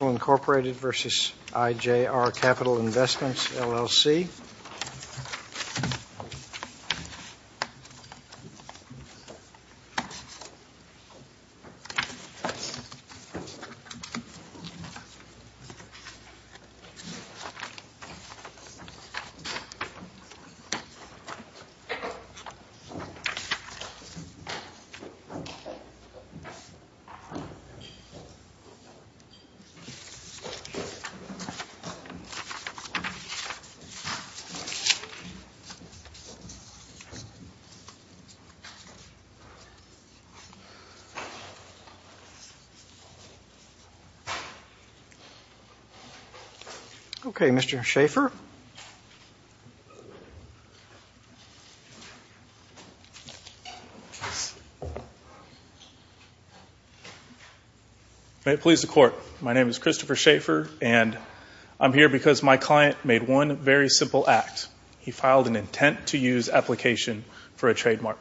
International, Inc. v. IJR Capital Investments, LLC. Okay, Mr. Schaefer? May it please the Court, my name is Christopher Schaefer and I'm here because my client made one very simple act. He filed an intent-to-use application for a trademark.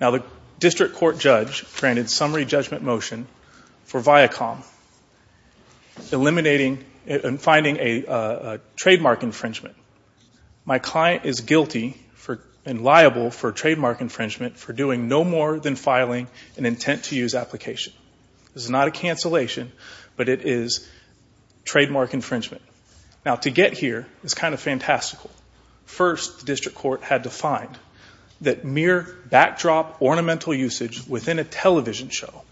Now the district court judge granted summary judgment motion for Viacom, eliminating and finding a trademark infringement. My client is guilty and liable for trademark infringement for doing no more than filing an intent-to-use application. This is not a cancellation, but it is trademark infringement. Now to get here is kind of fantastical. First the district court had to find that mere backdrop ornamental usage within a television show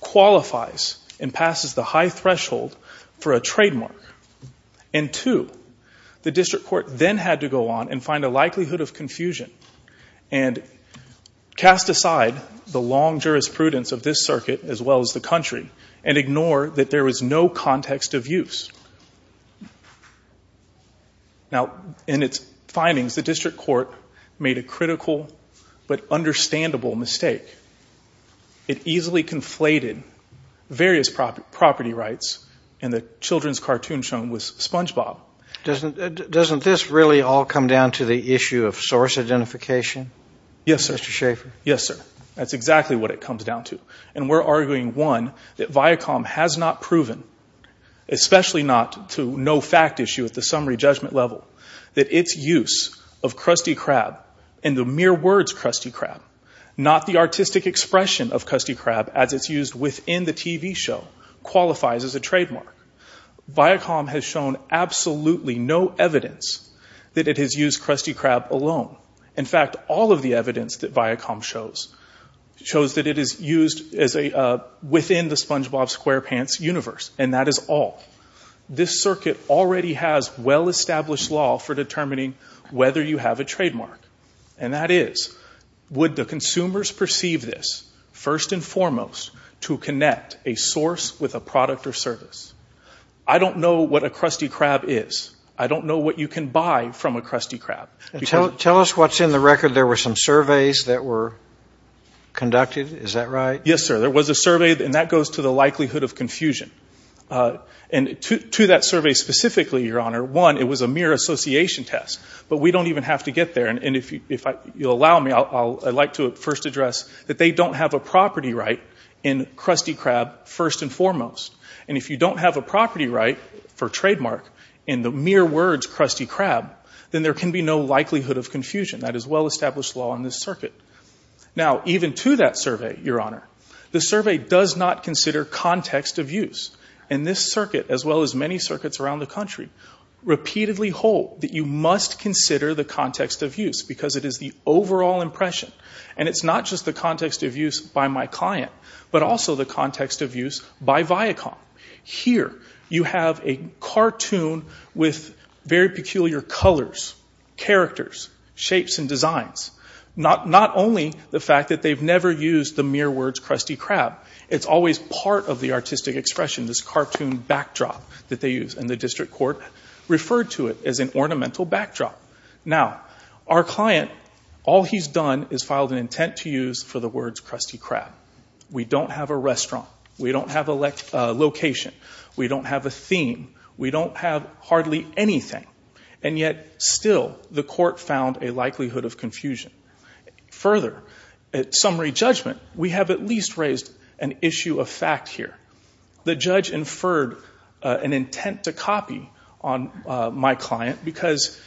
qualifies and passes the high threshold for a trademark. And two, the district court then had to go on and find a likelihood of confusion and cast aside the long jurisprudence of this circuit as well as the country and ignore that there is no context of use. Now in its findings, the district court made a critical but understandable mistake. It easily conflated various property rights in the children's cartoon show with Spongebob. Doesn't this really all come down to the issue of source identification, Mr. Schaefer? Yes, sir. That's exactly what it comes down to. And we're arguing, one, that Viacom has not proven, especially not to no fact issue at the summary judgment level, that its use of Krusty Krab and the mere words Krusty Krab, not the artistic expression of Krusty Krab as it's used within the TV show, qualifies as a trademark. Viacom has shown absolutely no evidence that it has used Krusty Krab alone. In fact, all of the evidence that Viacom shows shows that it is used within the Spongebob Squarepants universe, and that is all. This circuit already has well-established law for determining whether you have a trademark, and that is, would the consumers perceive this, first and foremost, to connect a source with a product or service? I don't know what a Krusty Krab is. I don't know what you can buy from a Krusty Krab. Tell us what's in the record. There were some surveys that were conducted. Is that right? Yes, sir. There was a survey, and that goes to the likelihood of confusion. And to that survey specifically, Your Honor, one, it was a mere association test, but we don't even have to get there, and if you'll allow me, I'd like to first address that they don't have a property right in Krusty Krab, first and foremost, and if you don't have a property right for trademark in the mere words Krusty Krab, then there can be no likelihood of confusion. That is well-established law in this circuit. Now, even to that survey, Your Honor, the survey does not consider context of use, and this circuit, as well as many circuits around the country, repeatedly hold that you must consider the context of use, because it is the overall impression, and it's not just the context of use by my client, but also the context of use by Viacom. Here, you have a cartoon with very peculiar colors, characters, shapes, and designs. Not only the fact that they've never used the mere words Krusty Krab, it's always part of the artistic expression, this cartoon backdrop that they use, and the district court referred to it as an ornamental backdrop. Now, our client, all he's done is filed an intent to use for the words Krusty Krab. We don't have a restaurant. We don't have a location. We don't have a theme. We don't have hardly anything, and yet, still, the court found a likelihood of confusion. Further, at summary judgment, we have at least raised an issue of fact here. The judge inferred an intent to copy on my client, because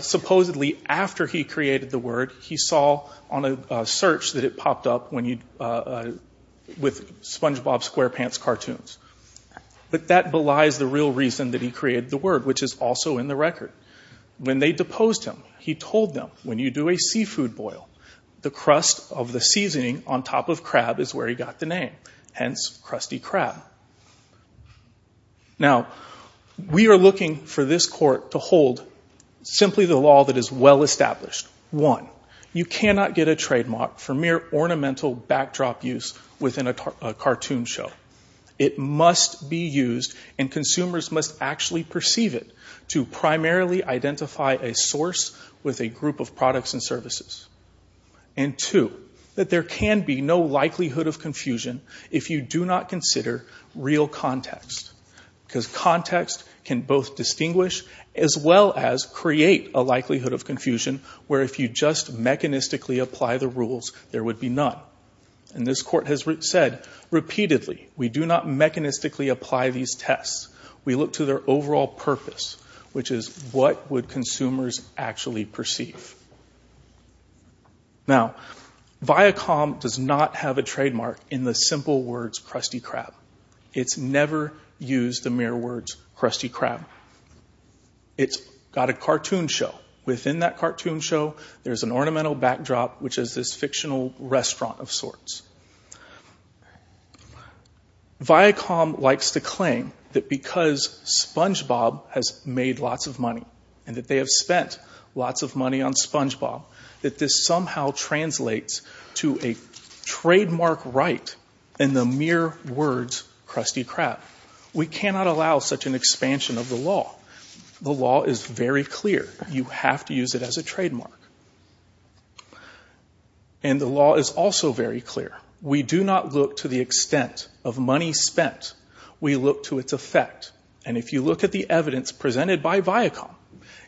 supposedly, after he created the word, he saw on a search that it popped up with SpongeBob SquarePants cartoons, but that belies the real reason that he created the word, which is also in the record. When they deposed him, he told them, when you do a seafood boil, the crust of the seasoning on top of crab is where he got the name, hence Krusty Krab. Now, we are looking for this court to hold simply the law that is well-established, one, you cannot get a trademark for mere ornamental backdrop use within a cartoon show. It must be used, and consumers must actually perceive it to primarily identify a source with a group of products and services. And two, that there can be no likelihood of confusion if you do not consider real context, because context can both distinguish as well as create a likelihood of confusion, where if you just mechanistically apply the rules, there would be none. And this court has said repeatedly, we do not mechanistically apply these tests. We look to their overall purpose, which is what would consumers actually perceive. Now, Viacom does not have a trademark in the simple words Krusty Krab. It's never used the mere words Krusty Krab. It's got a cartoon show. Within that cartoon show, there's an ornamental backdrop, which is this fictional restaurant of sorts. Viacom likes to claim that because SpongeBob has made lots of money, and that they have spent lots of money on SpongeBob, that this somehow translates to a trademark right in the mere words Krusty Krab. We cannot allow such an expansion of the law. The law is very clear. You have to use it as a trademark. And the law is also very clear. We do not look to the extent of money spent. We look to its effect. And if you look at the evidence presented by Viacom,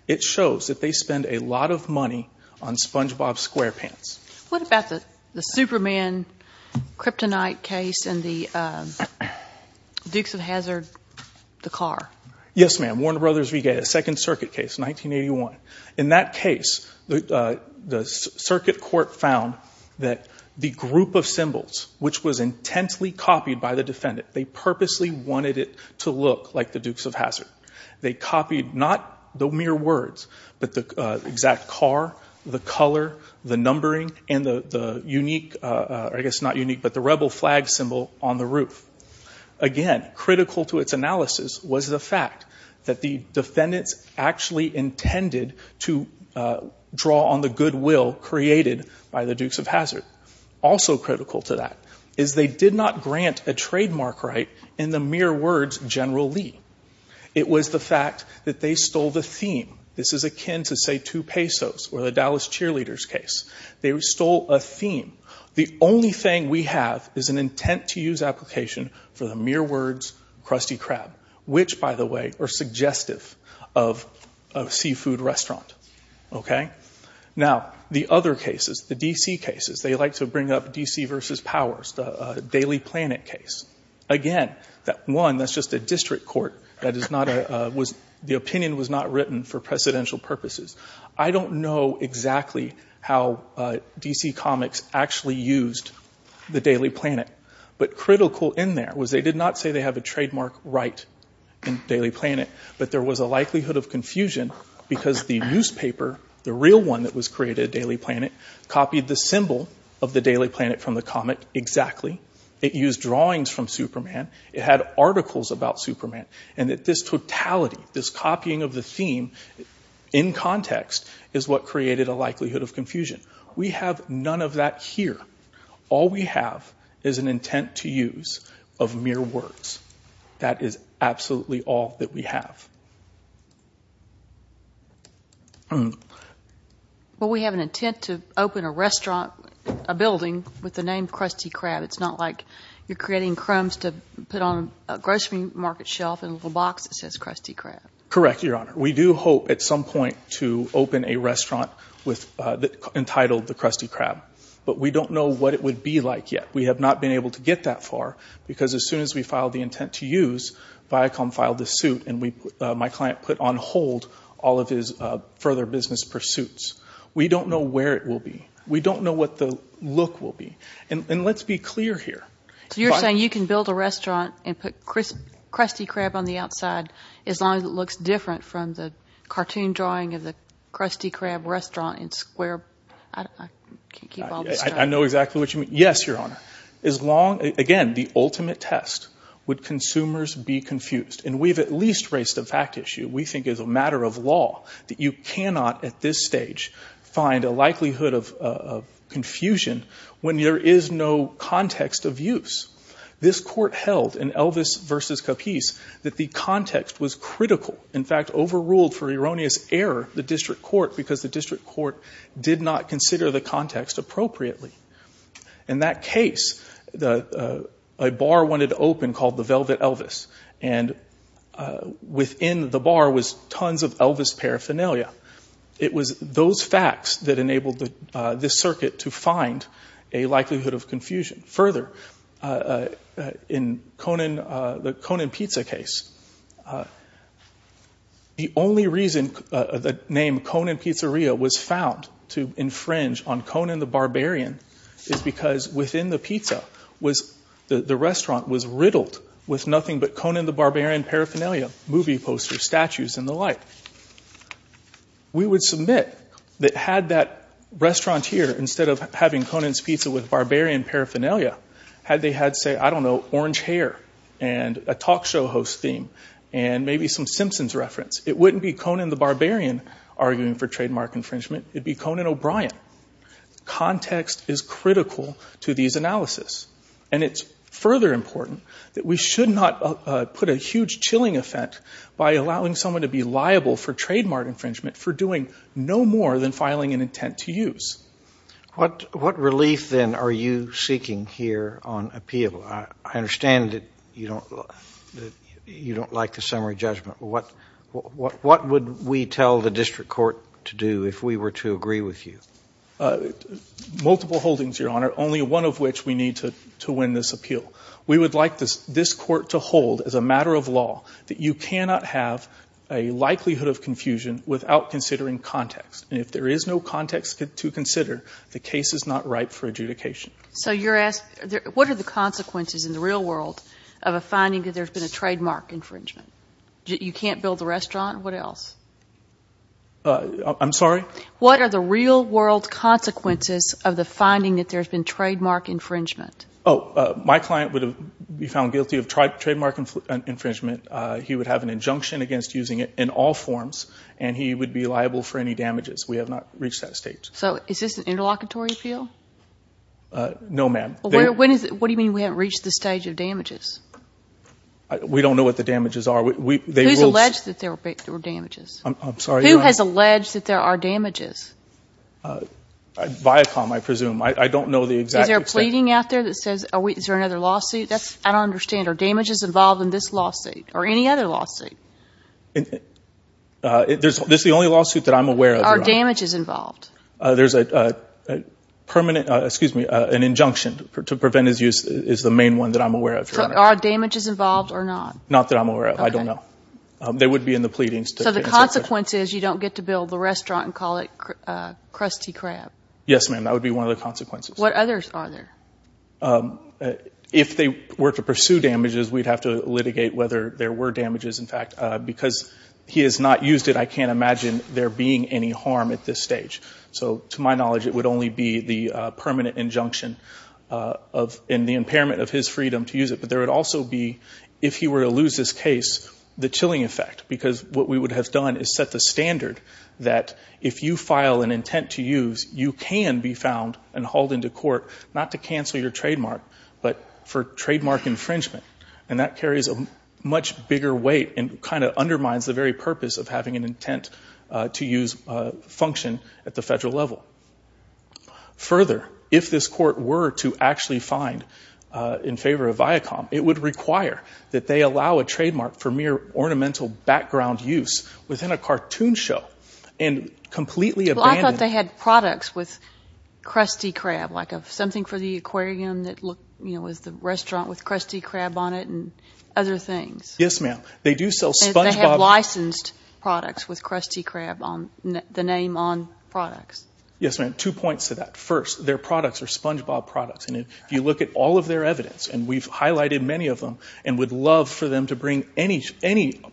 it shows that they spend a lot of money on SpongeBob SquarePants. What about the Superman kryptonite case and the Dukes of Hazzard, the car? Yes, ma'am, Warner Brothers Regatta, Second Circuit case, 1981. In that case, the circuit court found that the group of symbols, which was intensely copied by the defendant, they purposely wanted it to look like the Dukes of Hazzard. They copied not the mere words, but the exact car, the color, the numbering, and the unique, I guess not unique, but the rebel flag symbol on the roof. Again, critical to its analysis was the fact that the defendants actually intended to draw on the goodwill created by the Dukes of Hazzard. Also critical to that is they did not grant a trademark right in the mere words General Lee. It was the fact that they stole the theme. This is akin to, say, two pesos or the Dallas Cheerleaders case. They stole a theme. The only thing we have is an intent to use application for the mere words Krusty Krab, which, by the way, are suggestive of a seafood restaurant, okay? Now, the other cases, the D.C. cases, they like to bring up D.C. versus Powers, the Daily Planet case. Again, that one, that's just a district court. That is not a, was, the opinion was not written for precedential purposes. I don't know exactly how D.C. Comics actually used the Daily Planet. But critical in there was they did not say they have a trademark right in Daily Planet, but there was a likelihood of confusion because the newspaper, the real one that was created, Daily Planet, copied the symbol of the Daily Planet from the comic exactly. It used drawings from Superman. It had articles about Superman. And that this totality, this copying of the theme in context, is what created a likelihood of confusion. We have none of that here. All we have is an intent to use of mere words. That is absolutely all that we have. Well, we have an intent to open a restaurant, a building with the name Krusty Krab. It's not like you're creating crumbs to put on a grocery market shelf in a little box that says Krusty Krab. Correct, Your Honor. We do hope at some point to open a restaurant with, entitled the Krusty Krab. But we don't know what it would be like yet. We have not been able to get that far because as soon as we filed the intent to use, Viacom filed the suit and my client put on hold all of his further business pursuits. We don't know where it will be. We don't know what the look will be. And let's be clear here. So you're saying you can build a restaurant and put Krusty Krab on the outside as long as it looks different from the cartoon drawing of the Krusty Krab restaurant in square... I can't keep all this straight. I know exactly what you mean. Yes, Your Honor. As long, again, the ultimate test, would consumers be confused? And we've at least raised a fact issue, we think as a matter of law, that you cannot at this stage find a likelihood of confusion when there is no context of use. This court held in Elvis v. Capice that the context was critical. In fact, overruled for erroneous error the district court because the district court did not consider the context appropriately. In that case, a bar wanted to open called the Velvet Elvis and within the bar was tons of Elvis paraphernalia. It was those facts that enabled this circuit to find a likelihood of confusion. Further, in the Conan Pizza case, the only reason the name Conan Pizzeria was found to infringe on Conan the Barbarian is because within the pizza, the restaurant was riddled with nothing but Conan the Barbarian paraphernalia, movie posters, statues, and the like. We would submit that had that restaurant here, instead of having Conan's Pizza with Barbarian paraphernalia, had they had, say, I don't know, orange hair and a talk show host theme and maybe some Simpsons reference, it wouldn't be Conan the Barbarian arguing for trademark infringement, it'd be Conan O'Brien. Context is critical to these analysis. And it's further important that we should not put a huge chilling effect by allowing someone to be liable for trademark infringement for doing no more than filing an intent to use. What relief, then, are you seeking here on appeal? I understand that you don't like the summary judgment. What would we tell the district court to do if we were to agree with you? Multiple holdings, Your Honor, only one of which we need to win this appeal. We would like this court to hold, as a matter of law, that you cannot have a likelihood of confusion without considering context. And if there is no context to consider, the case is not ripe for adjudication. So you're asking, what are the consequences in the real world of a finding that there's been a trademark infringement? You can't build the restaurant? What else? I'm sorry? What are the real world consequences of the finding that there's been trademark infringement? Oh, my client would be found guilty of trademark infringement. He would have an injunction against using it in all forms, and he would be liable for any damages. We have not reached that state. So is this an interlocutory appeal? No, ma'am. What do you mean we haven't reached the stage of damages? We don't know what the damages are. Who's alleged that there were damages? I'm sorry, Your Honor? Who has alleged that there are damages? Viacom, I presume. I don't know the exact... Is there a pleading out there that says, is there another lawsuit? I don't understand. Are damages involved in this lawsuit or any other lawsuit? This is the only lawsuit that I'm aware of, Your Honor. Are damages involved? There's a permanent, excuse me, an injunction to prevent his use is the main one that I'm aware of, Your Honor. Are damages involved or not? Not that I'm aware of. I don't know. They would be in the pleadings. So the consequence is you don't get to build the restaurant and call it Krusty Krab? Yes, ma'am. That would be one of the consequences. What others are there? If they were to pursue damages, we'd have to litigate whether there were damages, in fact. Because he has not used it, I can't imagine there being any harm at this stage. So to my knowledge, it would only be the permanent injunction and the impairment of his freedom to use it. But there would also be, if he were to lose this case, the chilling effect. Because what we would have done is set the standard that if you file an intent to use, you can be found and hauled into court, not to cancel your trademark, but for trademark infringement. And that carries a much bigger weight and kind of undermines the very purpose of having an intent to use function at the federal level. Further, if this court were to actually find in favor of Viacom, it would require that they allow a trademark for mere ornamental background use within a cartoon show and completely abandon it. Well, I thought they had products with Krusty Krab, like something for the aquarium that looked, you know, as the restaurant with Krusty Krab on it and other things. Yes, ma'am. They do sell Spongebob. They have licensed products with Krusty Krab on the name on products. Yes, ma'am. Two points to that. First, their products are Spongebob products. And if you look at all of their evidence, and we've highlighted many of them, and would love for them to bring any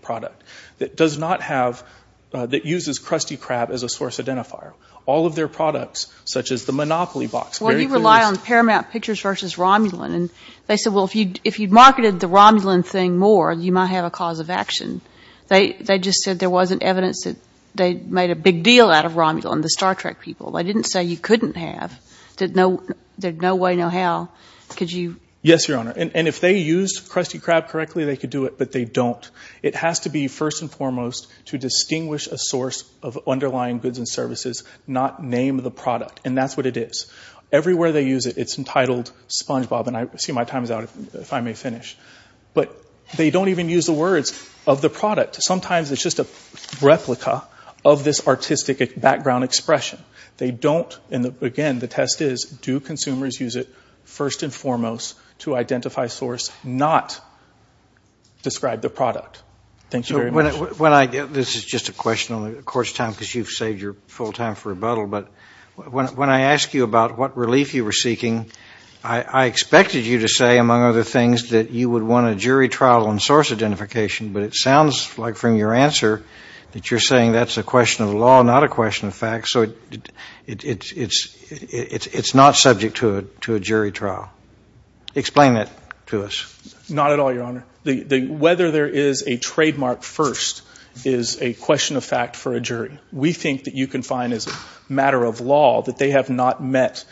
product that does not have, that uses Krusty Krab as a source identifier. All of their products, such as the Monopoly box. Well, you rely on Paramount Pictures versus Romulan. And they said, well, if you'd marketed the Romulan thing more, you might have a cause of action. They just said there wasn't evidence that they made a big deal out of Romulan, the Star Trek people. I didn't say you couldn't have. There's no way, no how. Could you? Yes, Your Honor. And if they used Krusty Krab correctly, they could do it. But they don't. It has to be, first and foremost, to distinguish a source of underlying goods and services, not name the product. And that's what it is. Everywhere they use it, it's entitled Spongebob. And I see my time is out, if I may finish. But they don't even use the words of the product. Sometimes it's just a replica of this artistic background expression. They don't. And again, the test is, do consumers use it, first and foremost, to identify source, not describe the product? Thank you very much. When I, this is just a question on the Court's time, because you've saved your full time for rebuttal. But when I ask you about what relief you were seeking, I expected you to say, among other things, that you would want a jury trial on source identification. But it sounds like, from your answer, that you're saying that's a question of law, not a question of fact. So it's not subject to a jury trial. Explain that to us. Not at all, Your Honor. Whether there is a trademark first is a question of fact for a jury. We think that you can find, as a matter of law, that they have not met,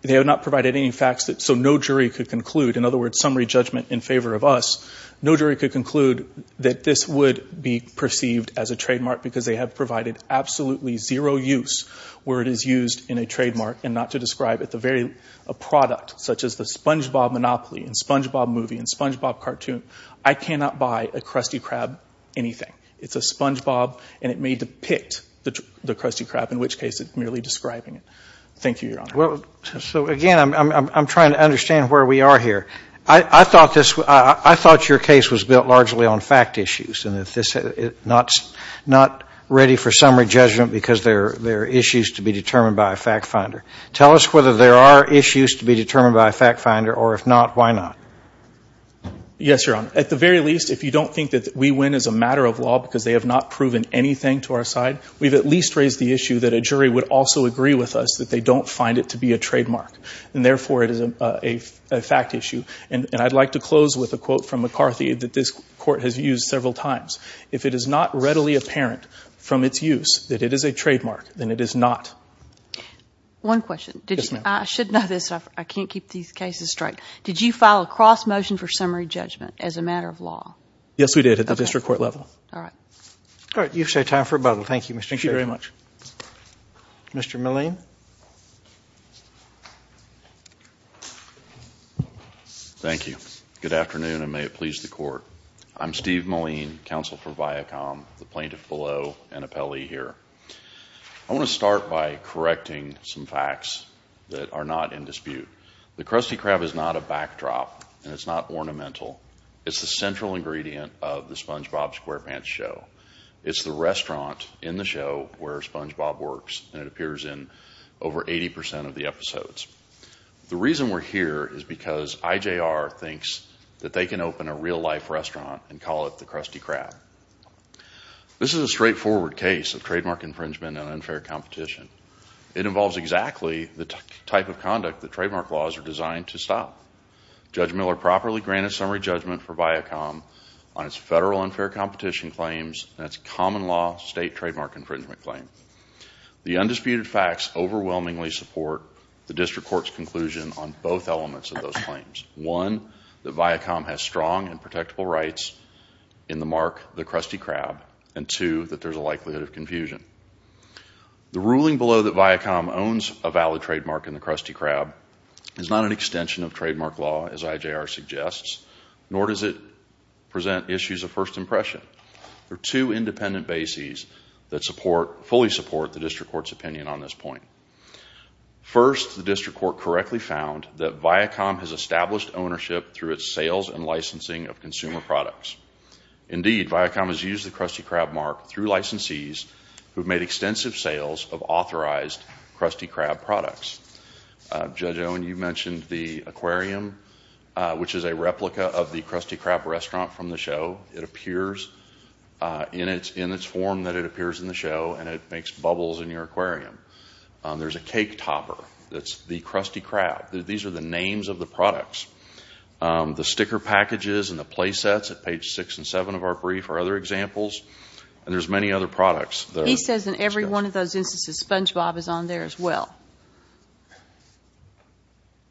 they have not provided any facts so no jury could conclude. In other words, summary judgment in favor of us. No jury could conclude that this would be perceived as a trademark because they have provided absolutely zero use where it is used in a trademark and not to describe it, a product such as the Spongebob Monopoly and Spongebob movie and Spongebob cartoon. I cannot buy a Krusty Krab anything. It's a Spongebob and it may depict the Krusty Krab, in which case it's merely describing it. Thank you, Your Honor. So again, I'm trying to understand where we are here. I thought this, I thought your case was built largely on fact issues and that this is not ready for summary judgment because there are issues to be determined by a fact finder. Tell us whether there are issues to be determined by a fact finder or if not, why not? Yes, Your Honor. At the very least, if you don't think that we win as a matter of law because they have not proven anything to our side, we've at least raised the issue that a jury would also agree with us that they don't find it to be a trademark. And therefore, it is a fact issue. And I'd like to close with a quote from McCarthy that this court has used several times. If it is not readily apparent from its use that it is a trademark, then it is not. One question. Yes, ma'am. I should know this. I can't keep these cases straight. Did you file a cross motion for summary judgment as a matter of law? Yes, we did at the district court level. All right, you've set a time for rebuttal. Thank you, Mr. Sherry. Thank you very much. Mr. Milleen? Thank you. Good afternoon, and may it please the court. I'm Steve Milleen, counsel for Viacom, the plaintiff below, and appellee here. I want to start by correcting some facts that are not in dispute. The Krusty Krab is not a backdrop, and it's not ornamental. It's the central ingredient of the SpongeBob SquarePants show. It's the restaurant in the show where SpongeBob works, and it appears in over 80% of the episodes. The reason we're here is because IJR thinks that they can open a real life restaurant and call it the Krusty Krab. This is a straightforward case of trademark infringement and unfair competition. It involves exactly the type of conduct that trademark laws are designed to stop. Judge Miller properly granted summary judgment for Viacom on its federal unfair competition claims and its common law state trademark infringement claim. The undisputed facts overwhelmingly support the district court's conclusion on both elements of those claims. One, that Viacom has strong and protectable rights in the mark, the Krusty Krab, and two, that there's a likelihood of confusion. The ruling below that Viacom owns a valid trademark in the Krusty Krab is not an extension of trademark law, as IJR suggests, nor does it present issues of first impression. There are two independent bases that fully support the district court's opinion on this point. First, the district court correctly found that Viacom has established ownership through its sales and licensing of consumer products. Indeed, Viacom has used the Krusty Krab mark through licensees who have made extensive sales of authorized Krusty Krab products. Judge Owen, you mentioned the aquarium, which is a replica of the Krusty Krab restaurant from the show. It appears in its form that it appears in the show, and it makes bubbles in your aquarium. There's a cake topper that's the Krusty Krab. These are the names of the products. The sticker packages and the play sets at page six and seven of our brief are other examples, and there's many other products. He says in every one of those instances, SpongeBob is on there as well.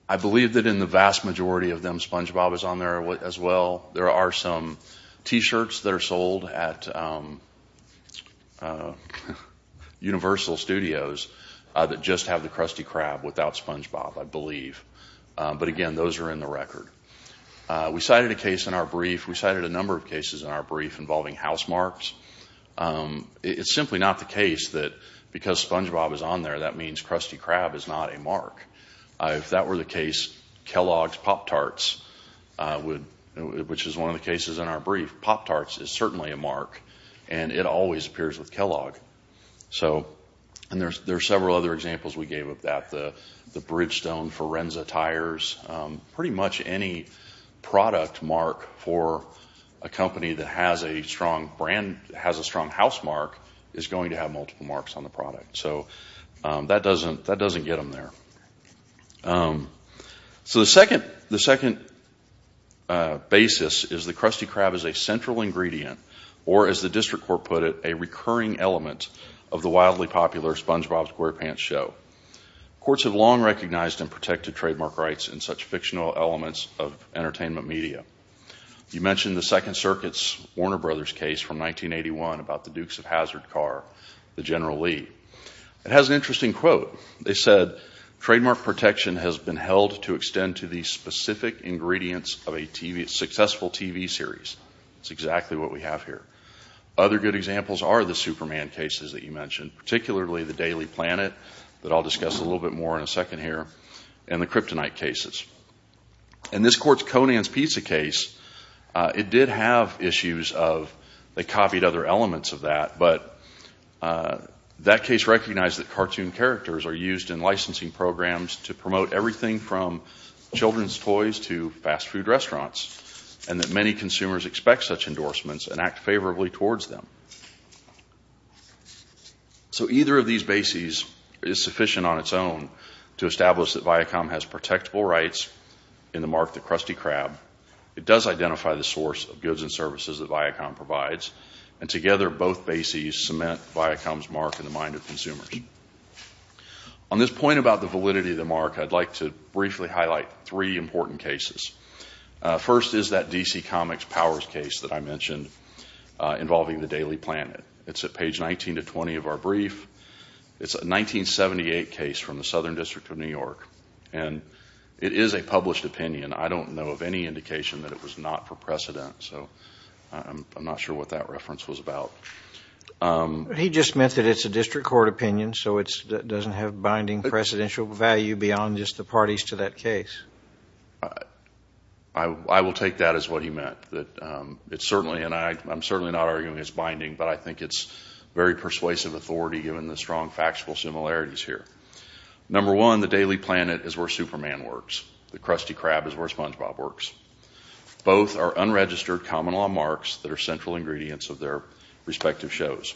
I believe that in the vast majority of them, SpongeBob is on there as well. There are some t-shirts that are sold at Universal Studios that just have the Krusty Krab without SpongeBob, I believe. But again, those are in the record. We cited a case in our brief. We cited a number of cases in our brief involving house marks. It's simply not the case that because SpongeBob is on there, that means Krusty Krab is not a mark. If that were the case, Kellogg's Pop-Tarts, which is one of the cases in our brief, Pop-Tarts is certainly a mark, and it always appears with Kellogg. There are several other examples we gave of that. The Bridgestone Forenza tires, pretty much any product mark for a company that has a strong house mark is going to have multiple marks on the product. So that doesn't get them there. So the second basis is the Krusty Krab is a central ingredient, or as the district court put it, a recurring element of the wildly popular SpongeBob SquarePants show. Courts have long recognized and protected trademark rights in such fictional elements of entertainment media. You mentioned the Second Circuit's Warner Brothers case from 1981 about the Dukes of Hazzard car, the General Lee. It has an interesting quote. They said, trademark protection has been held to extend to the specific ingredients of a successful TV series. It's exactly what we have here. Other good examples are the Superman cases that you mentioned, particularly the Daily Planet that I'll discuss a little bit more in a second here, and the Kryptonite cases. In this court's Conan's Pizza case, it did have issues of they copied other elements of that, but that case recognized that cartoon characters are used in licensing programs to promote everything from children's toys to fast food restaurants, and that many consumers expect such endorsements and act favorably towards them. So either of these bases is sufficient on its own to establish that Viacom has protectable rights in the mark, the Krusty Krab. It does identify the source of goods and services that Viacom provides, and together both bases cement Viacom's mark in the mind of consumers. On this point about the validity of the mark, I'd like to briefly highlight three important cases. First is that DC Comics Powers case that I mentioned involving the Daily Planet. It's at page 19 to 20 of our brief. It's a 1978 case from the Southern District of New York, and it is a published opinion. I don't know of any indication that it was not for precedent, so I'm not sure what that reference was about. He just meant that it's a district court opinion, so it doesn't have binding precedential value beyond just the parties to that case. I will take that as what he meant, that it's certainly, and I'm certainly not arguing it's binding, but I think it's very persuasive authority given the strong factual similarities here. Number one, the Daily Planet is where Superman works. The Krusty Krab is where SpongeBob works. Both are unregistered common law marks that are central ingredients of their respective shows.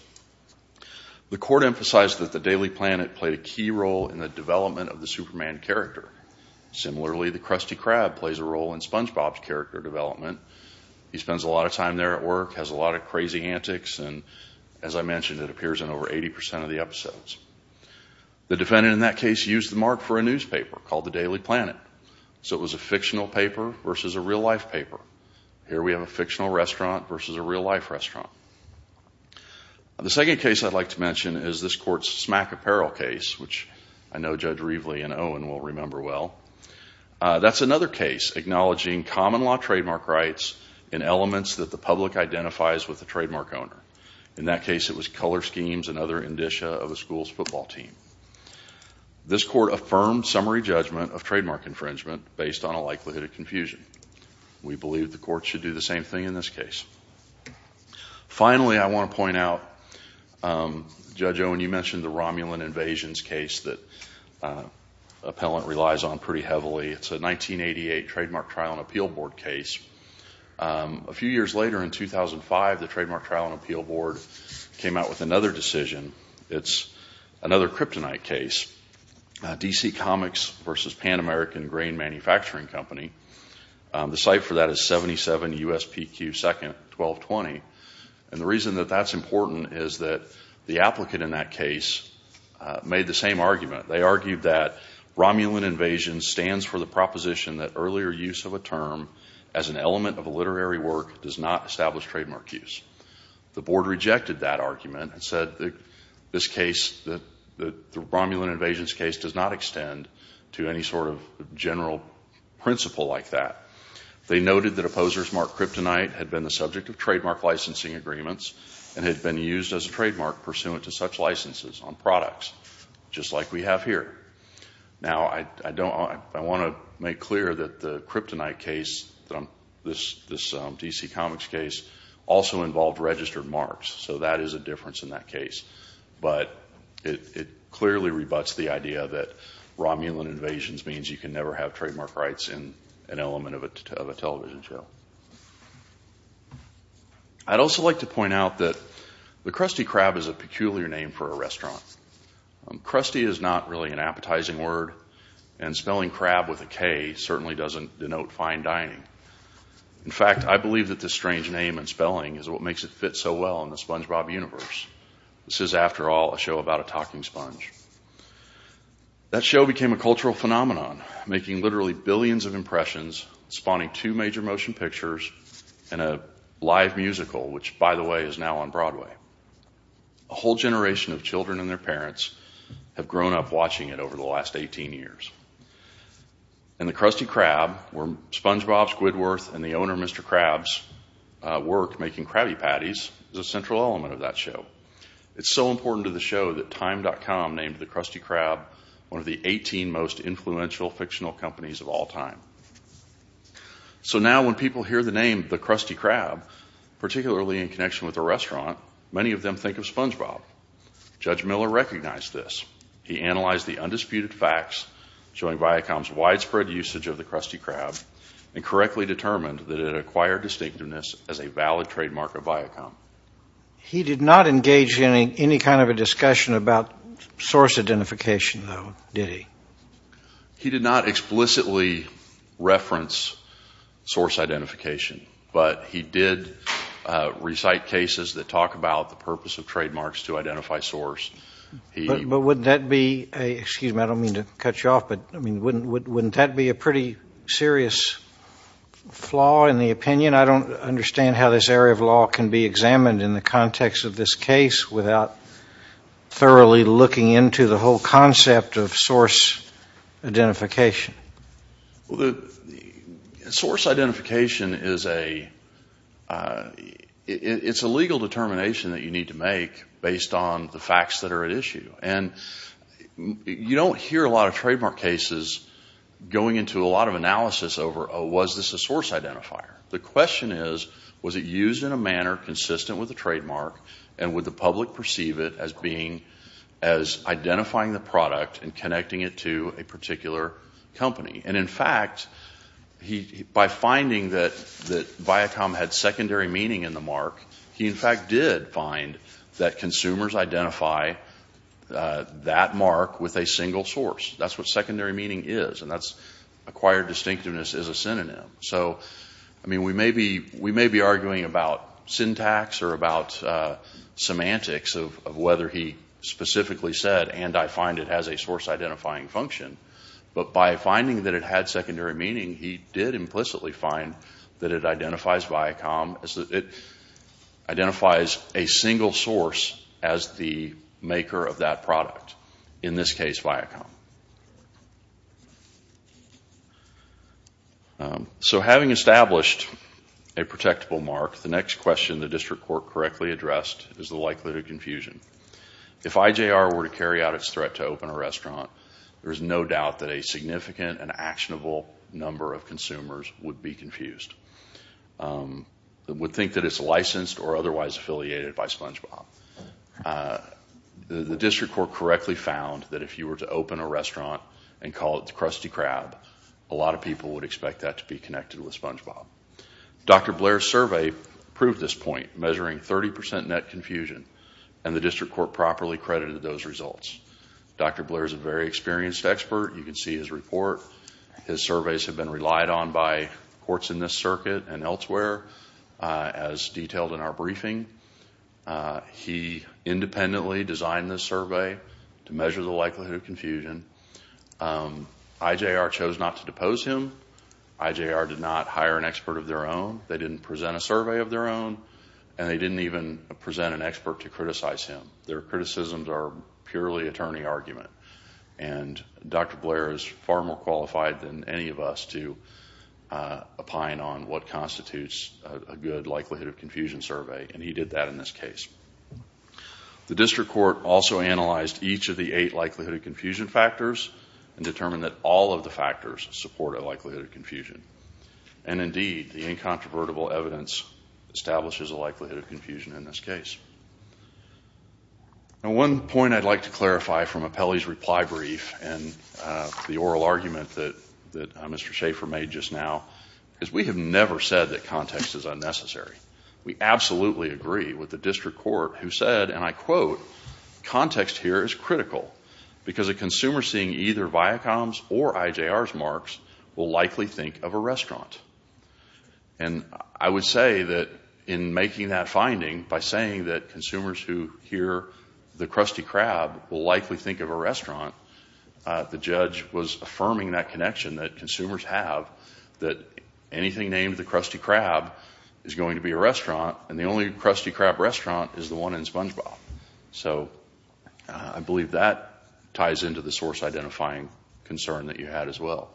The court emphasized that the Daily Planet played a key role in the development of the Superman character. Similarly, the Krusty Krab plays a role in SpongeBob's character development. He spends a lot of time there at work, has a lot of crazy antics, and as I mentioned, it appears in over 80% of the episodes. The defendant in that case used the mark for a newspaper called the Daily Planet, so it was a fictional paper versus a real-life paper. Here we have a fictional restaurant versus a real-life restaurant. The second case I'd like to mention is this court's Smack Apparel case, which I know Judge Reveley and Owen will remember well. That's another case acknowledging common law trademark rights in elements that the public identifies with the trademark owner. In that case, it was color schemes and other indicia of a school's football team. This court affirmed summary judgment of trademark infringement based on a likelihood of confusion. We believe the court should do the same thing in this case. Finally, I want to point out, Judge Owen, you mentioned the Romulan Invasions case that Appellant relies on pretty heavily. It's a 1988 Trademark Trial and Appeal Board case. A few years later, in 2005, the Trademark Trial and Appeal Board came out with another decision. It's another kryptonite case, DC Comics versus Pan American Grain Manufacturing Company. The cite for that is 77 USPQ 2nd 1220. The reason that that's important is that the applicant in that case made the same argument. They argued that Romulan Invasions stands for the proposition that earlier use of a term as an element of a literary work does not establish trademark use. The board rejected that argument and said that the Romulan Invasions case does not extend to any sort of general principle like that. They noted that opposers marked kryptonite had been the subject of trademark licensing agreements and had been used as a trademark pursuant to such licenses on products, just like we have here. Now, I want to make clear that the kryptonite case, this DC Comics case, also involved registered marks, so that is a difference in that case. But it clearly rebuts the idea that Romulan Invasions means you can never have trademark rights in an element of a television show. I'd also like to point out that the Krusty Krab is a peculiar name for a restaurant. Krusty is not really an appetizing word and spelling crab with a K certainly doesn't denote fine dining. In fact, I believe that this strange name and spelling is what makes it fit so well in the SpongeBob universe. This is, after all, a show about a talking sponge. That show became a cultural phenomenon, making literally billions of impressions, spawning two major motion pictures and a live musical, which, by the way, is now on Broadway. A whole generation of children and their parents have grown up watching it over the last 18 years. And the Krusty Krab, where SpongeBob Squidworth and the owner Mr. Krabs work making Krabby Patties, is a central element of that show. It's so important to the show that time.com named the Krusty Krab one of the 18 most influential fictional companies of all time. So now when people hear the name the Krusty Krab, particularly in connection with a restaurant, many of them think of SpongeBob. Judge Miller recognized this. He analyzed the undisputed facts showing Viacom's widespread usage of the Krusty Krab and correctly determined that it acquired distinctiveness as a valid trademark of Viacom. He did not engage in any kind of a discussion about source identification, though, did he? He did not explicitly reference source identification, but he did recite cases that talk about the purpose of trademarks to identify source. But wouldn't that be a, excuse me, I don't mean to cut you off, but I mean, wouldn't that be a pretty serious flaw in the opinion? I don't understand how this area of law can be examined in the context of this case without thoroughly looking into the whole concept of source identification. Source identification is a, it's a legal determination that you need to make based on the facts that are at issue. And you don't hear a lot of trademark cases going into a lot of analysis over, was this a source identifier? The question is, was it used in a manner consistent with the trademark and would the public perceive it as being, as identifying the product and connecting it to a particular company? And in fact, by finding that Viacom had secondary meaning in the mark, he in fact did find that consumers identify that mark with a single source. That's what secondary meaning is. And that's acquired distinctiveness as a synonym. So, I mean, we may be arguing about syntax or about semantics of whether he specifically said, and I find it has a source identifying function, but by finding that it had secondary meaning, he did implicitly find that it identifies Viacom, as it identifies a single source as the maker of that product. In this case, Viacom. So having established a protectable mark, the next question the district court correctly addressed is the likelihood of confusion. If IJR were to carry out its threat to open a restaurant, there is no doubt that a significant and actionable number of consumers would be confused. They would think that it's licensed or otherwise affiliated by SpongeBob. The district court correctly found that if you were to open a restaurant and call it the Krusty Krab, a lot of people would expect that to be connected with SpongeBob. Dr. Blair's survey proved this point, measuring 30% net confusion, and the district court properly credited those results. Dr. Blair is a very experienced expert. You can see his report. His surveys have been relied on by courts in this circuit and elsewhere, as detailed in our briefing. He independently designed this survey to measure the likelihood of confusion. IJR chose not to depose him. IJR did not hire an expert of their own. They didn't present a survey of their own, and they didn't even present an expert to criticize him. Their criticisms are purely attorney argument, and Dr. Blair is far more qualified than any of us to opine on what constitutes a good likelihood of confusion survey, and he did that in this case. The district court also analyzed each of the eight likelihood of confusion factors. Determine that all of the factors support a likelihood of confusion, and indeed, the incontrovertible evidence establishes a likelihood of confusion in this case. One point I'd like to clarify from Apelli's reply brief and the oral argument that Mr. Schaffer made just now, is we have never said that context is unnecessary. We absolutely agree with the district court who said, and I quote, context here is critical, because a consumer seeing either Viacom's or IJR's marks will likely think of a restaurant. And I would say that in making that finding by saying that consumers who hear the Krusty Krab will likely think of a restaurant, the judge was affirming that connection that consumers have, that anything named the Krusty Krab is going to be a restaurant, and the only Krusty Krab restaurant is the one in SpongeBob. So I believe that ties into the source identifying concern that you had as well.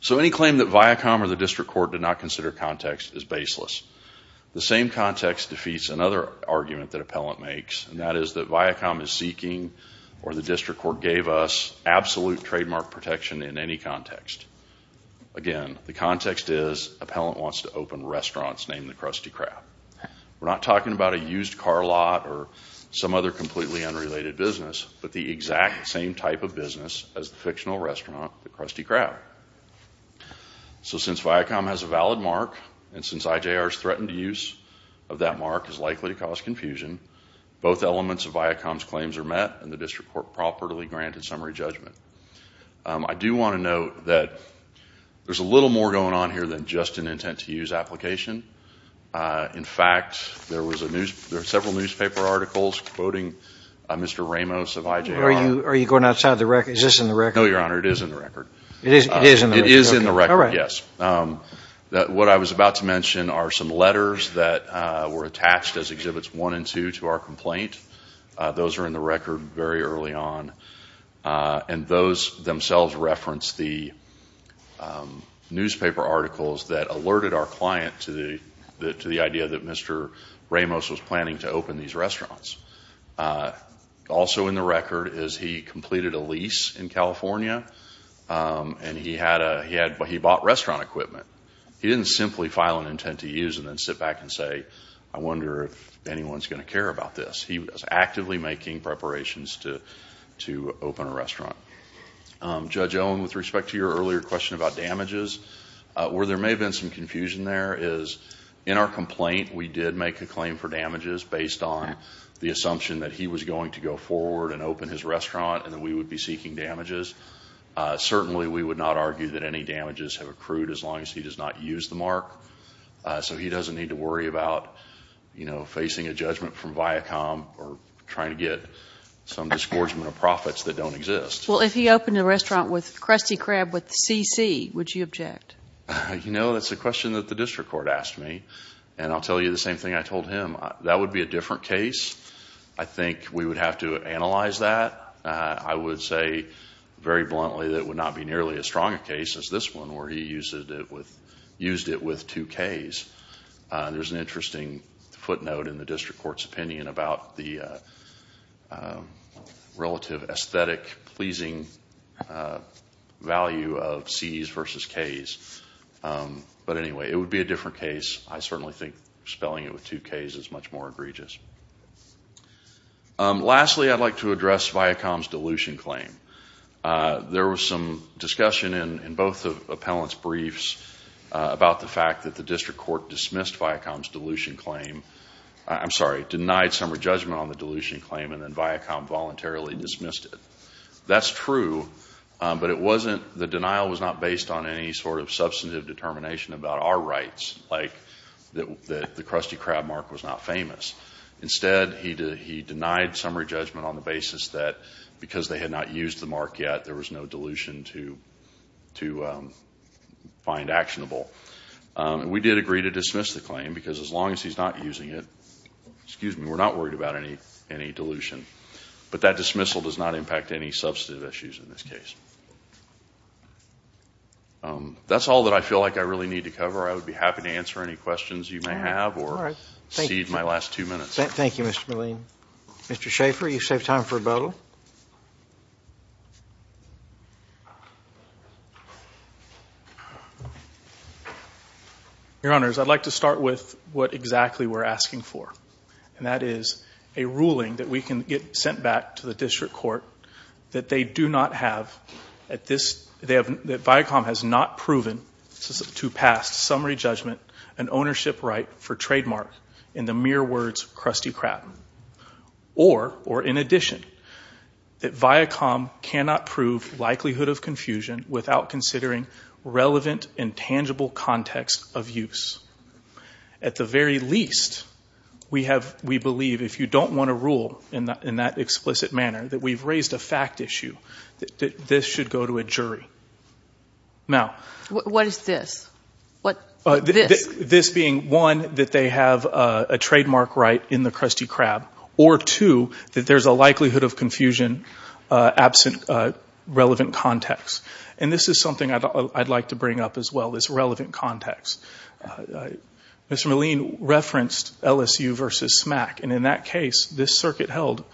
So any claim that Viacom or the district court did not consider context is baseless. The same context defeats another argument that Appellant makes, and that is that Viacom is seeking, or the district court gave us, absolute trademark protection in any context. Again, the context is Appellant wants to open restaurants named the Krusty Krab. We're not talking about a used car lot or some other completely unrelated business, but the exact same type of business as the fictional restaurant, the Krusty Krab. So since Viacom has a valid mark, and since IJR's threatened use of that mark is likely to cause confusion, both elements of Viacom's claims are met, and the district court properly granted summary judgment. I do want to note that there's a little more going on here than just an intent-to-use application. In fact, there were several newspaper articles quoting Mr. Ramos of IJR. Are you going outside the record? Is this in the record? No, Your Honor, it is in the record. It is in the record? It is in the record, yes. What I was about to mention are some letters that were attached as Exhibits 1 and 2 to our complaint. Those are in the record very early on, and those themselves reference the newspaper articles that alerted our client to the idea that Mr. Ramos was planning to open these restaurants. Also in the record is he completed a lease in California, and he bought restaurant equipment. He didn't simply file an intent-to-use and then sit back and say, I wonder if anyone's going to care about this. He was actively making preparations to open a restaurant. Judge Owen, with respect to your earlier question about damages, where there may have been some confusion there, is in our complaint, we did make a claim for damages based on the assumption that he was going to go forward and open his restaurant, and that we would be seeking damages. Certainly, we would not argue that any damages have accrued as long as he does not use the mark. So he doesn't need to worry about, you know, facing a judgment from Viacom or trying to get some disgorgement of profits that don't exist. Well, if he opened a restaurant with Krusty Krab with CC, would you object? You know, that's a question that the district court asked me, and I'll tell you the same thing I told him. That would be a different case. I think we would have to analyze that. I would say very bluntly that it would not be nearly as strong a case as this one where he used it with two Ks. There's an interesting footnote in the district court's opinion about the relative aesthetic pleasing value of Cs versus Ks. But anyway, it would be a different case. I certainly think spelling it with two Ks is much more egregious. Lastly, I'd like to address Viacom's dilution claim. There was some discussion in both of the appellant's briefs about the fact that the district court dismissed Viacom's dilution claim. I'm sorry, denied summary judgment on the dilution claim and then Viacom voluntarily dismissed it. That's true, but the denial was not based on any sort of substantive determination about our rights, like that the Krusty Krab mark was not famous. Instead, he denied summary judgment on the basis that because they had not used the mark yet, there was no dilution to find actionable. We did agree to dismiss the claim because as long as he's not using it, excuse me, we're not worried about any dilution. But that dismissal does not impact any substantive issues in this case. That's all that I feel like I really need to cover. I would be happy to answer any questions you may have or cede my last two minutes. Thank you, Mr. Milleen. Mr. Schaffer, you saved time for a bottle. Your Honors, I'd like to start with what exactly we're asking for. And that is a ruling that we can get sent back to the district court that they do not have at this, that Viacom has not proven to pass summary judgment and ownership right for trademark in the mere words Krusty Krab. that Viacom has not proven to pass summary judgment that Viacom cannot prove likelihood of confusion without considering relevant and tangible context of use. At the very least, we have, we believe, if you don't want to rule in that explicit manner that we've raised a fact issue, that this should go to a jury. Now, what is this? This being one, that they have a trademark right in the Krusty Krab or two, that there's a likelihood of confusion absent relevant context. And this is something I'd like to bring up as well, this relevant context. Mr. Milleen referenced LSU versus SMAC. And in that case, this circuit held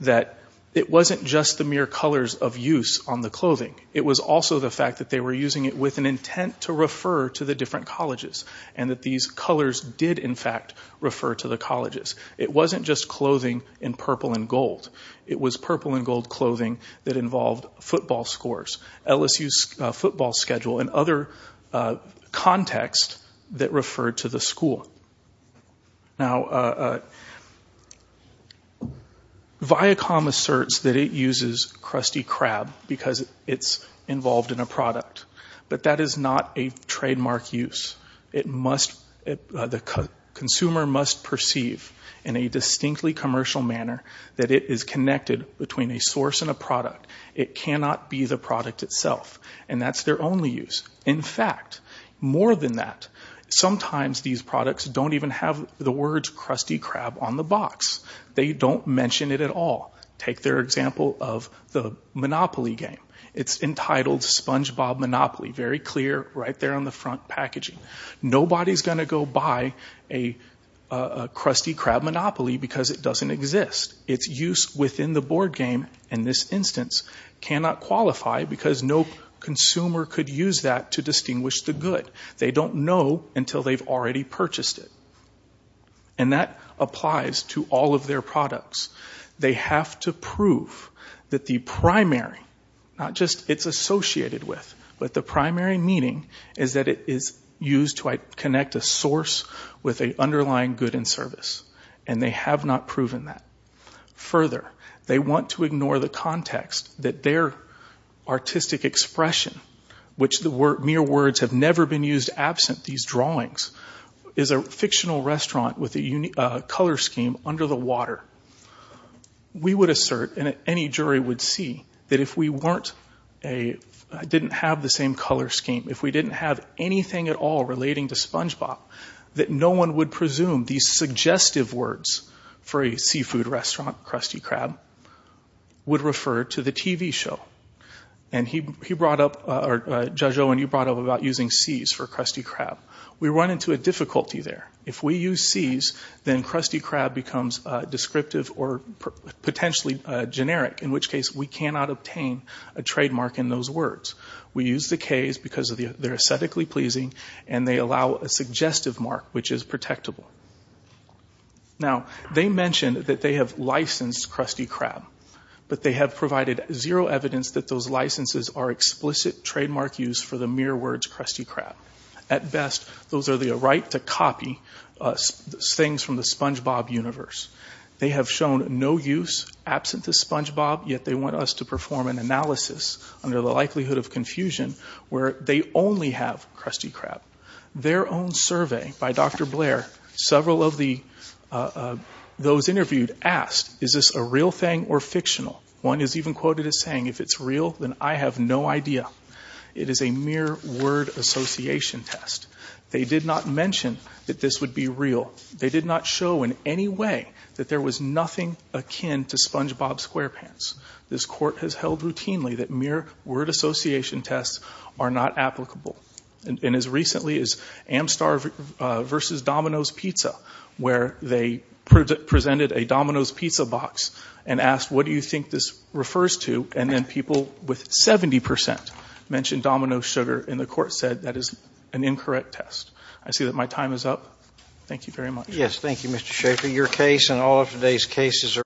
that it wasn't just the mere colors of use on the clothing. It was also the fact that they were using it with an intent to refer to the different colleges and that these colors did in fact refer to the colleges. It wasn't just clothing in purple and gold. It was purple and gold clothing that involved football scores, LSU's football schedule, and other context that referred to the school. Now, Viacom asserts that it uses Krusty Krab because it's involved in a product. But that is not a trademark use. It must, the consumer must perceive in a distinctly commercial manner that it is connected between a source and a product. It cannot be the product itself. And that's their only use. In fact, more than that, sometimes these products don't even have the words Krusty Krab on the box. They don't mention it at all. Take their example of the Monopoly game. It's entitled SpongeBob Monopoly, very clear right there on the front packaging. Nobody's gonna go buy a Krusty Krab Monopoly because it doesn't exist. Its use within the board game in this instance cannot qualify because no consumer could use that to distinguish the good. They don't know until they've already purchased it. And that applies to all of their products. They have to prove that the primary, not just it's associated with, but the primary meaning is that it is used to connect a source with an underlying good and service. And they have not proven that. Further, they want to ignore the context that their artistic expression, which the mere words have never been used absent these drawings, is a fictional restaurant with a color scheme under the water. We would assert, and any jury would see, that if we didn't have the same color scheme, if we didn't have anything at all relating to SpongeBob, that no one would presume these suggestive words for a seafood restaurant, Krusty Krab, would refer to the TV show. And he brought up, or Judge Owen, you brought up about using Cs for Krusty Krab. We run into a difficulty there. If we use Cs, then Krusty Krab becomes descriptive or potentially generic, in which case we cannot obtain a trademark in those words. We use the Ks because they're aesthetically pleasing and they allow a suggestive mark, which is protectable. Now, they mentioned that they have licensed Krusty Krab, but they have provided zero evidence that those licenses are explicit trademark use for the mere words Krusty Krab. At best, those are the right to copy things from the SpongeBob universe. They have shown no use absent to SpongeBob, yet they want us to perform an analysis under the likelihood of confusion where they only have Krusty Krab. Their own survey by Dr. Blair, several of those interviewed asked, is this a real thing or fictional? One is even quoted as saying, if it's real, then I have no idea. It is a mere word association test. They did not mention that this would be real. They did not show in any way that there was nothing akin to SpongeBob SquarePants. This court has held routinely that mere word association tests are not applicable. And as recently as Amstar versus Domino's Pizza, where they presented a Domino's Pizza box and asked, what do you think this refers to? And then people with 70% mentioned Domino's sugar and the court said, that is an incorrect test. I see that my time is up. Thank you very much. Yes, thank you, Mr. Schaffer. Your case and all of today's cases are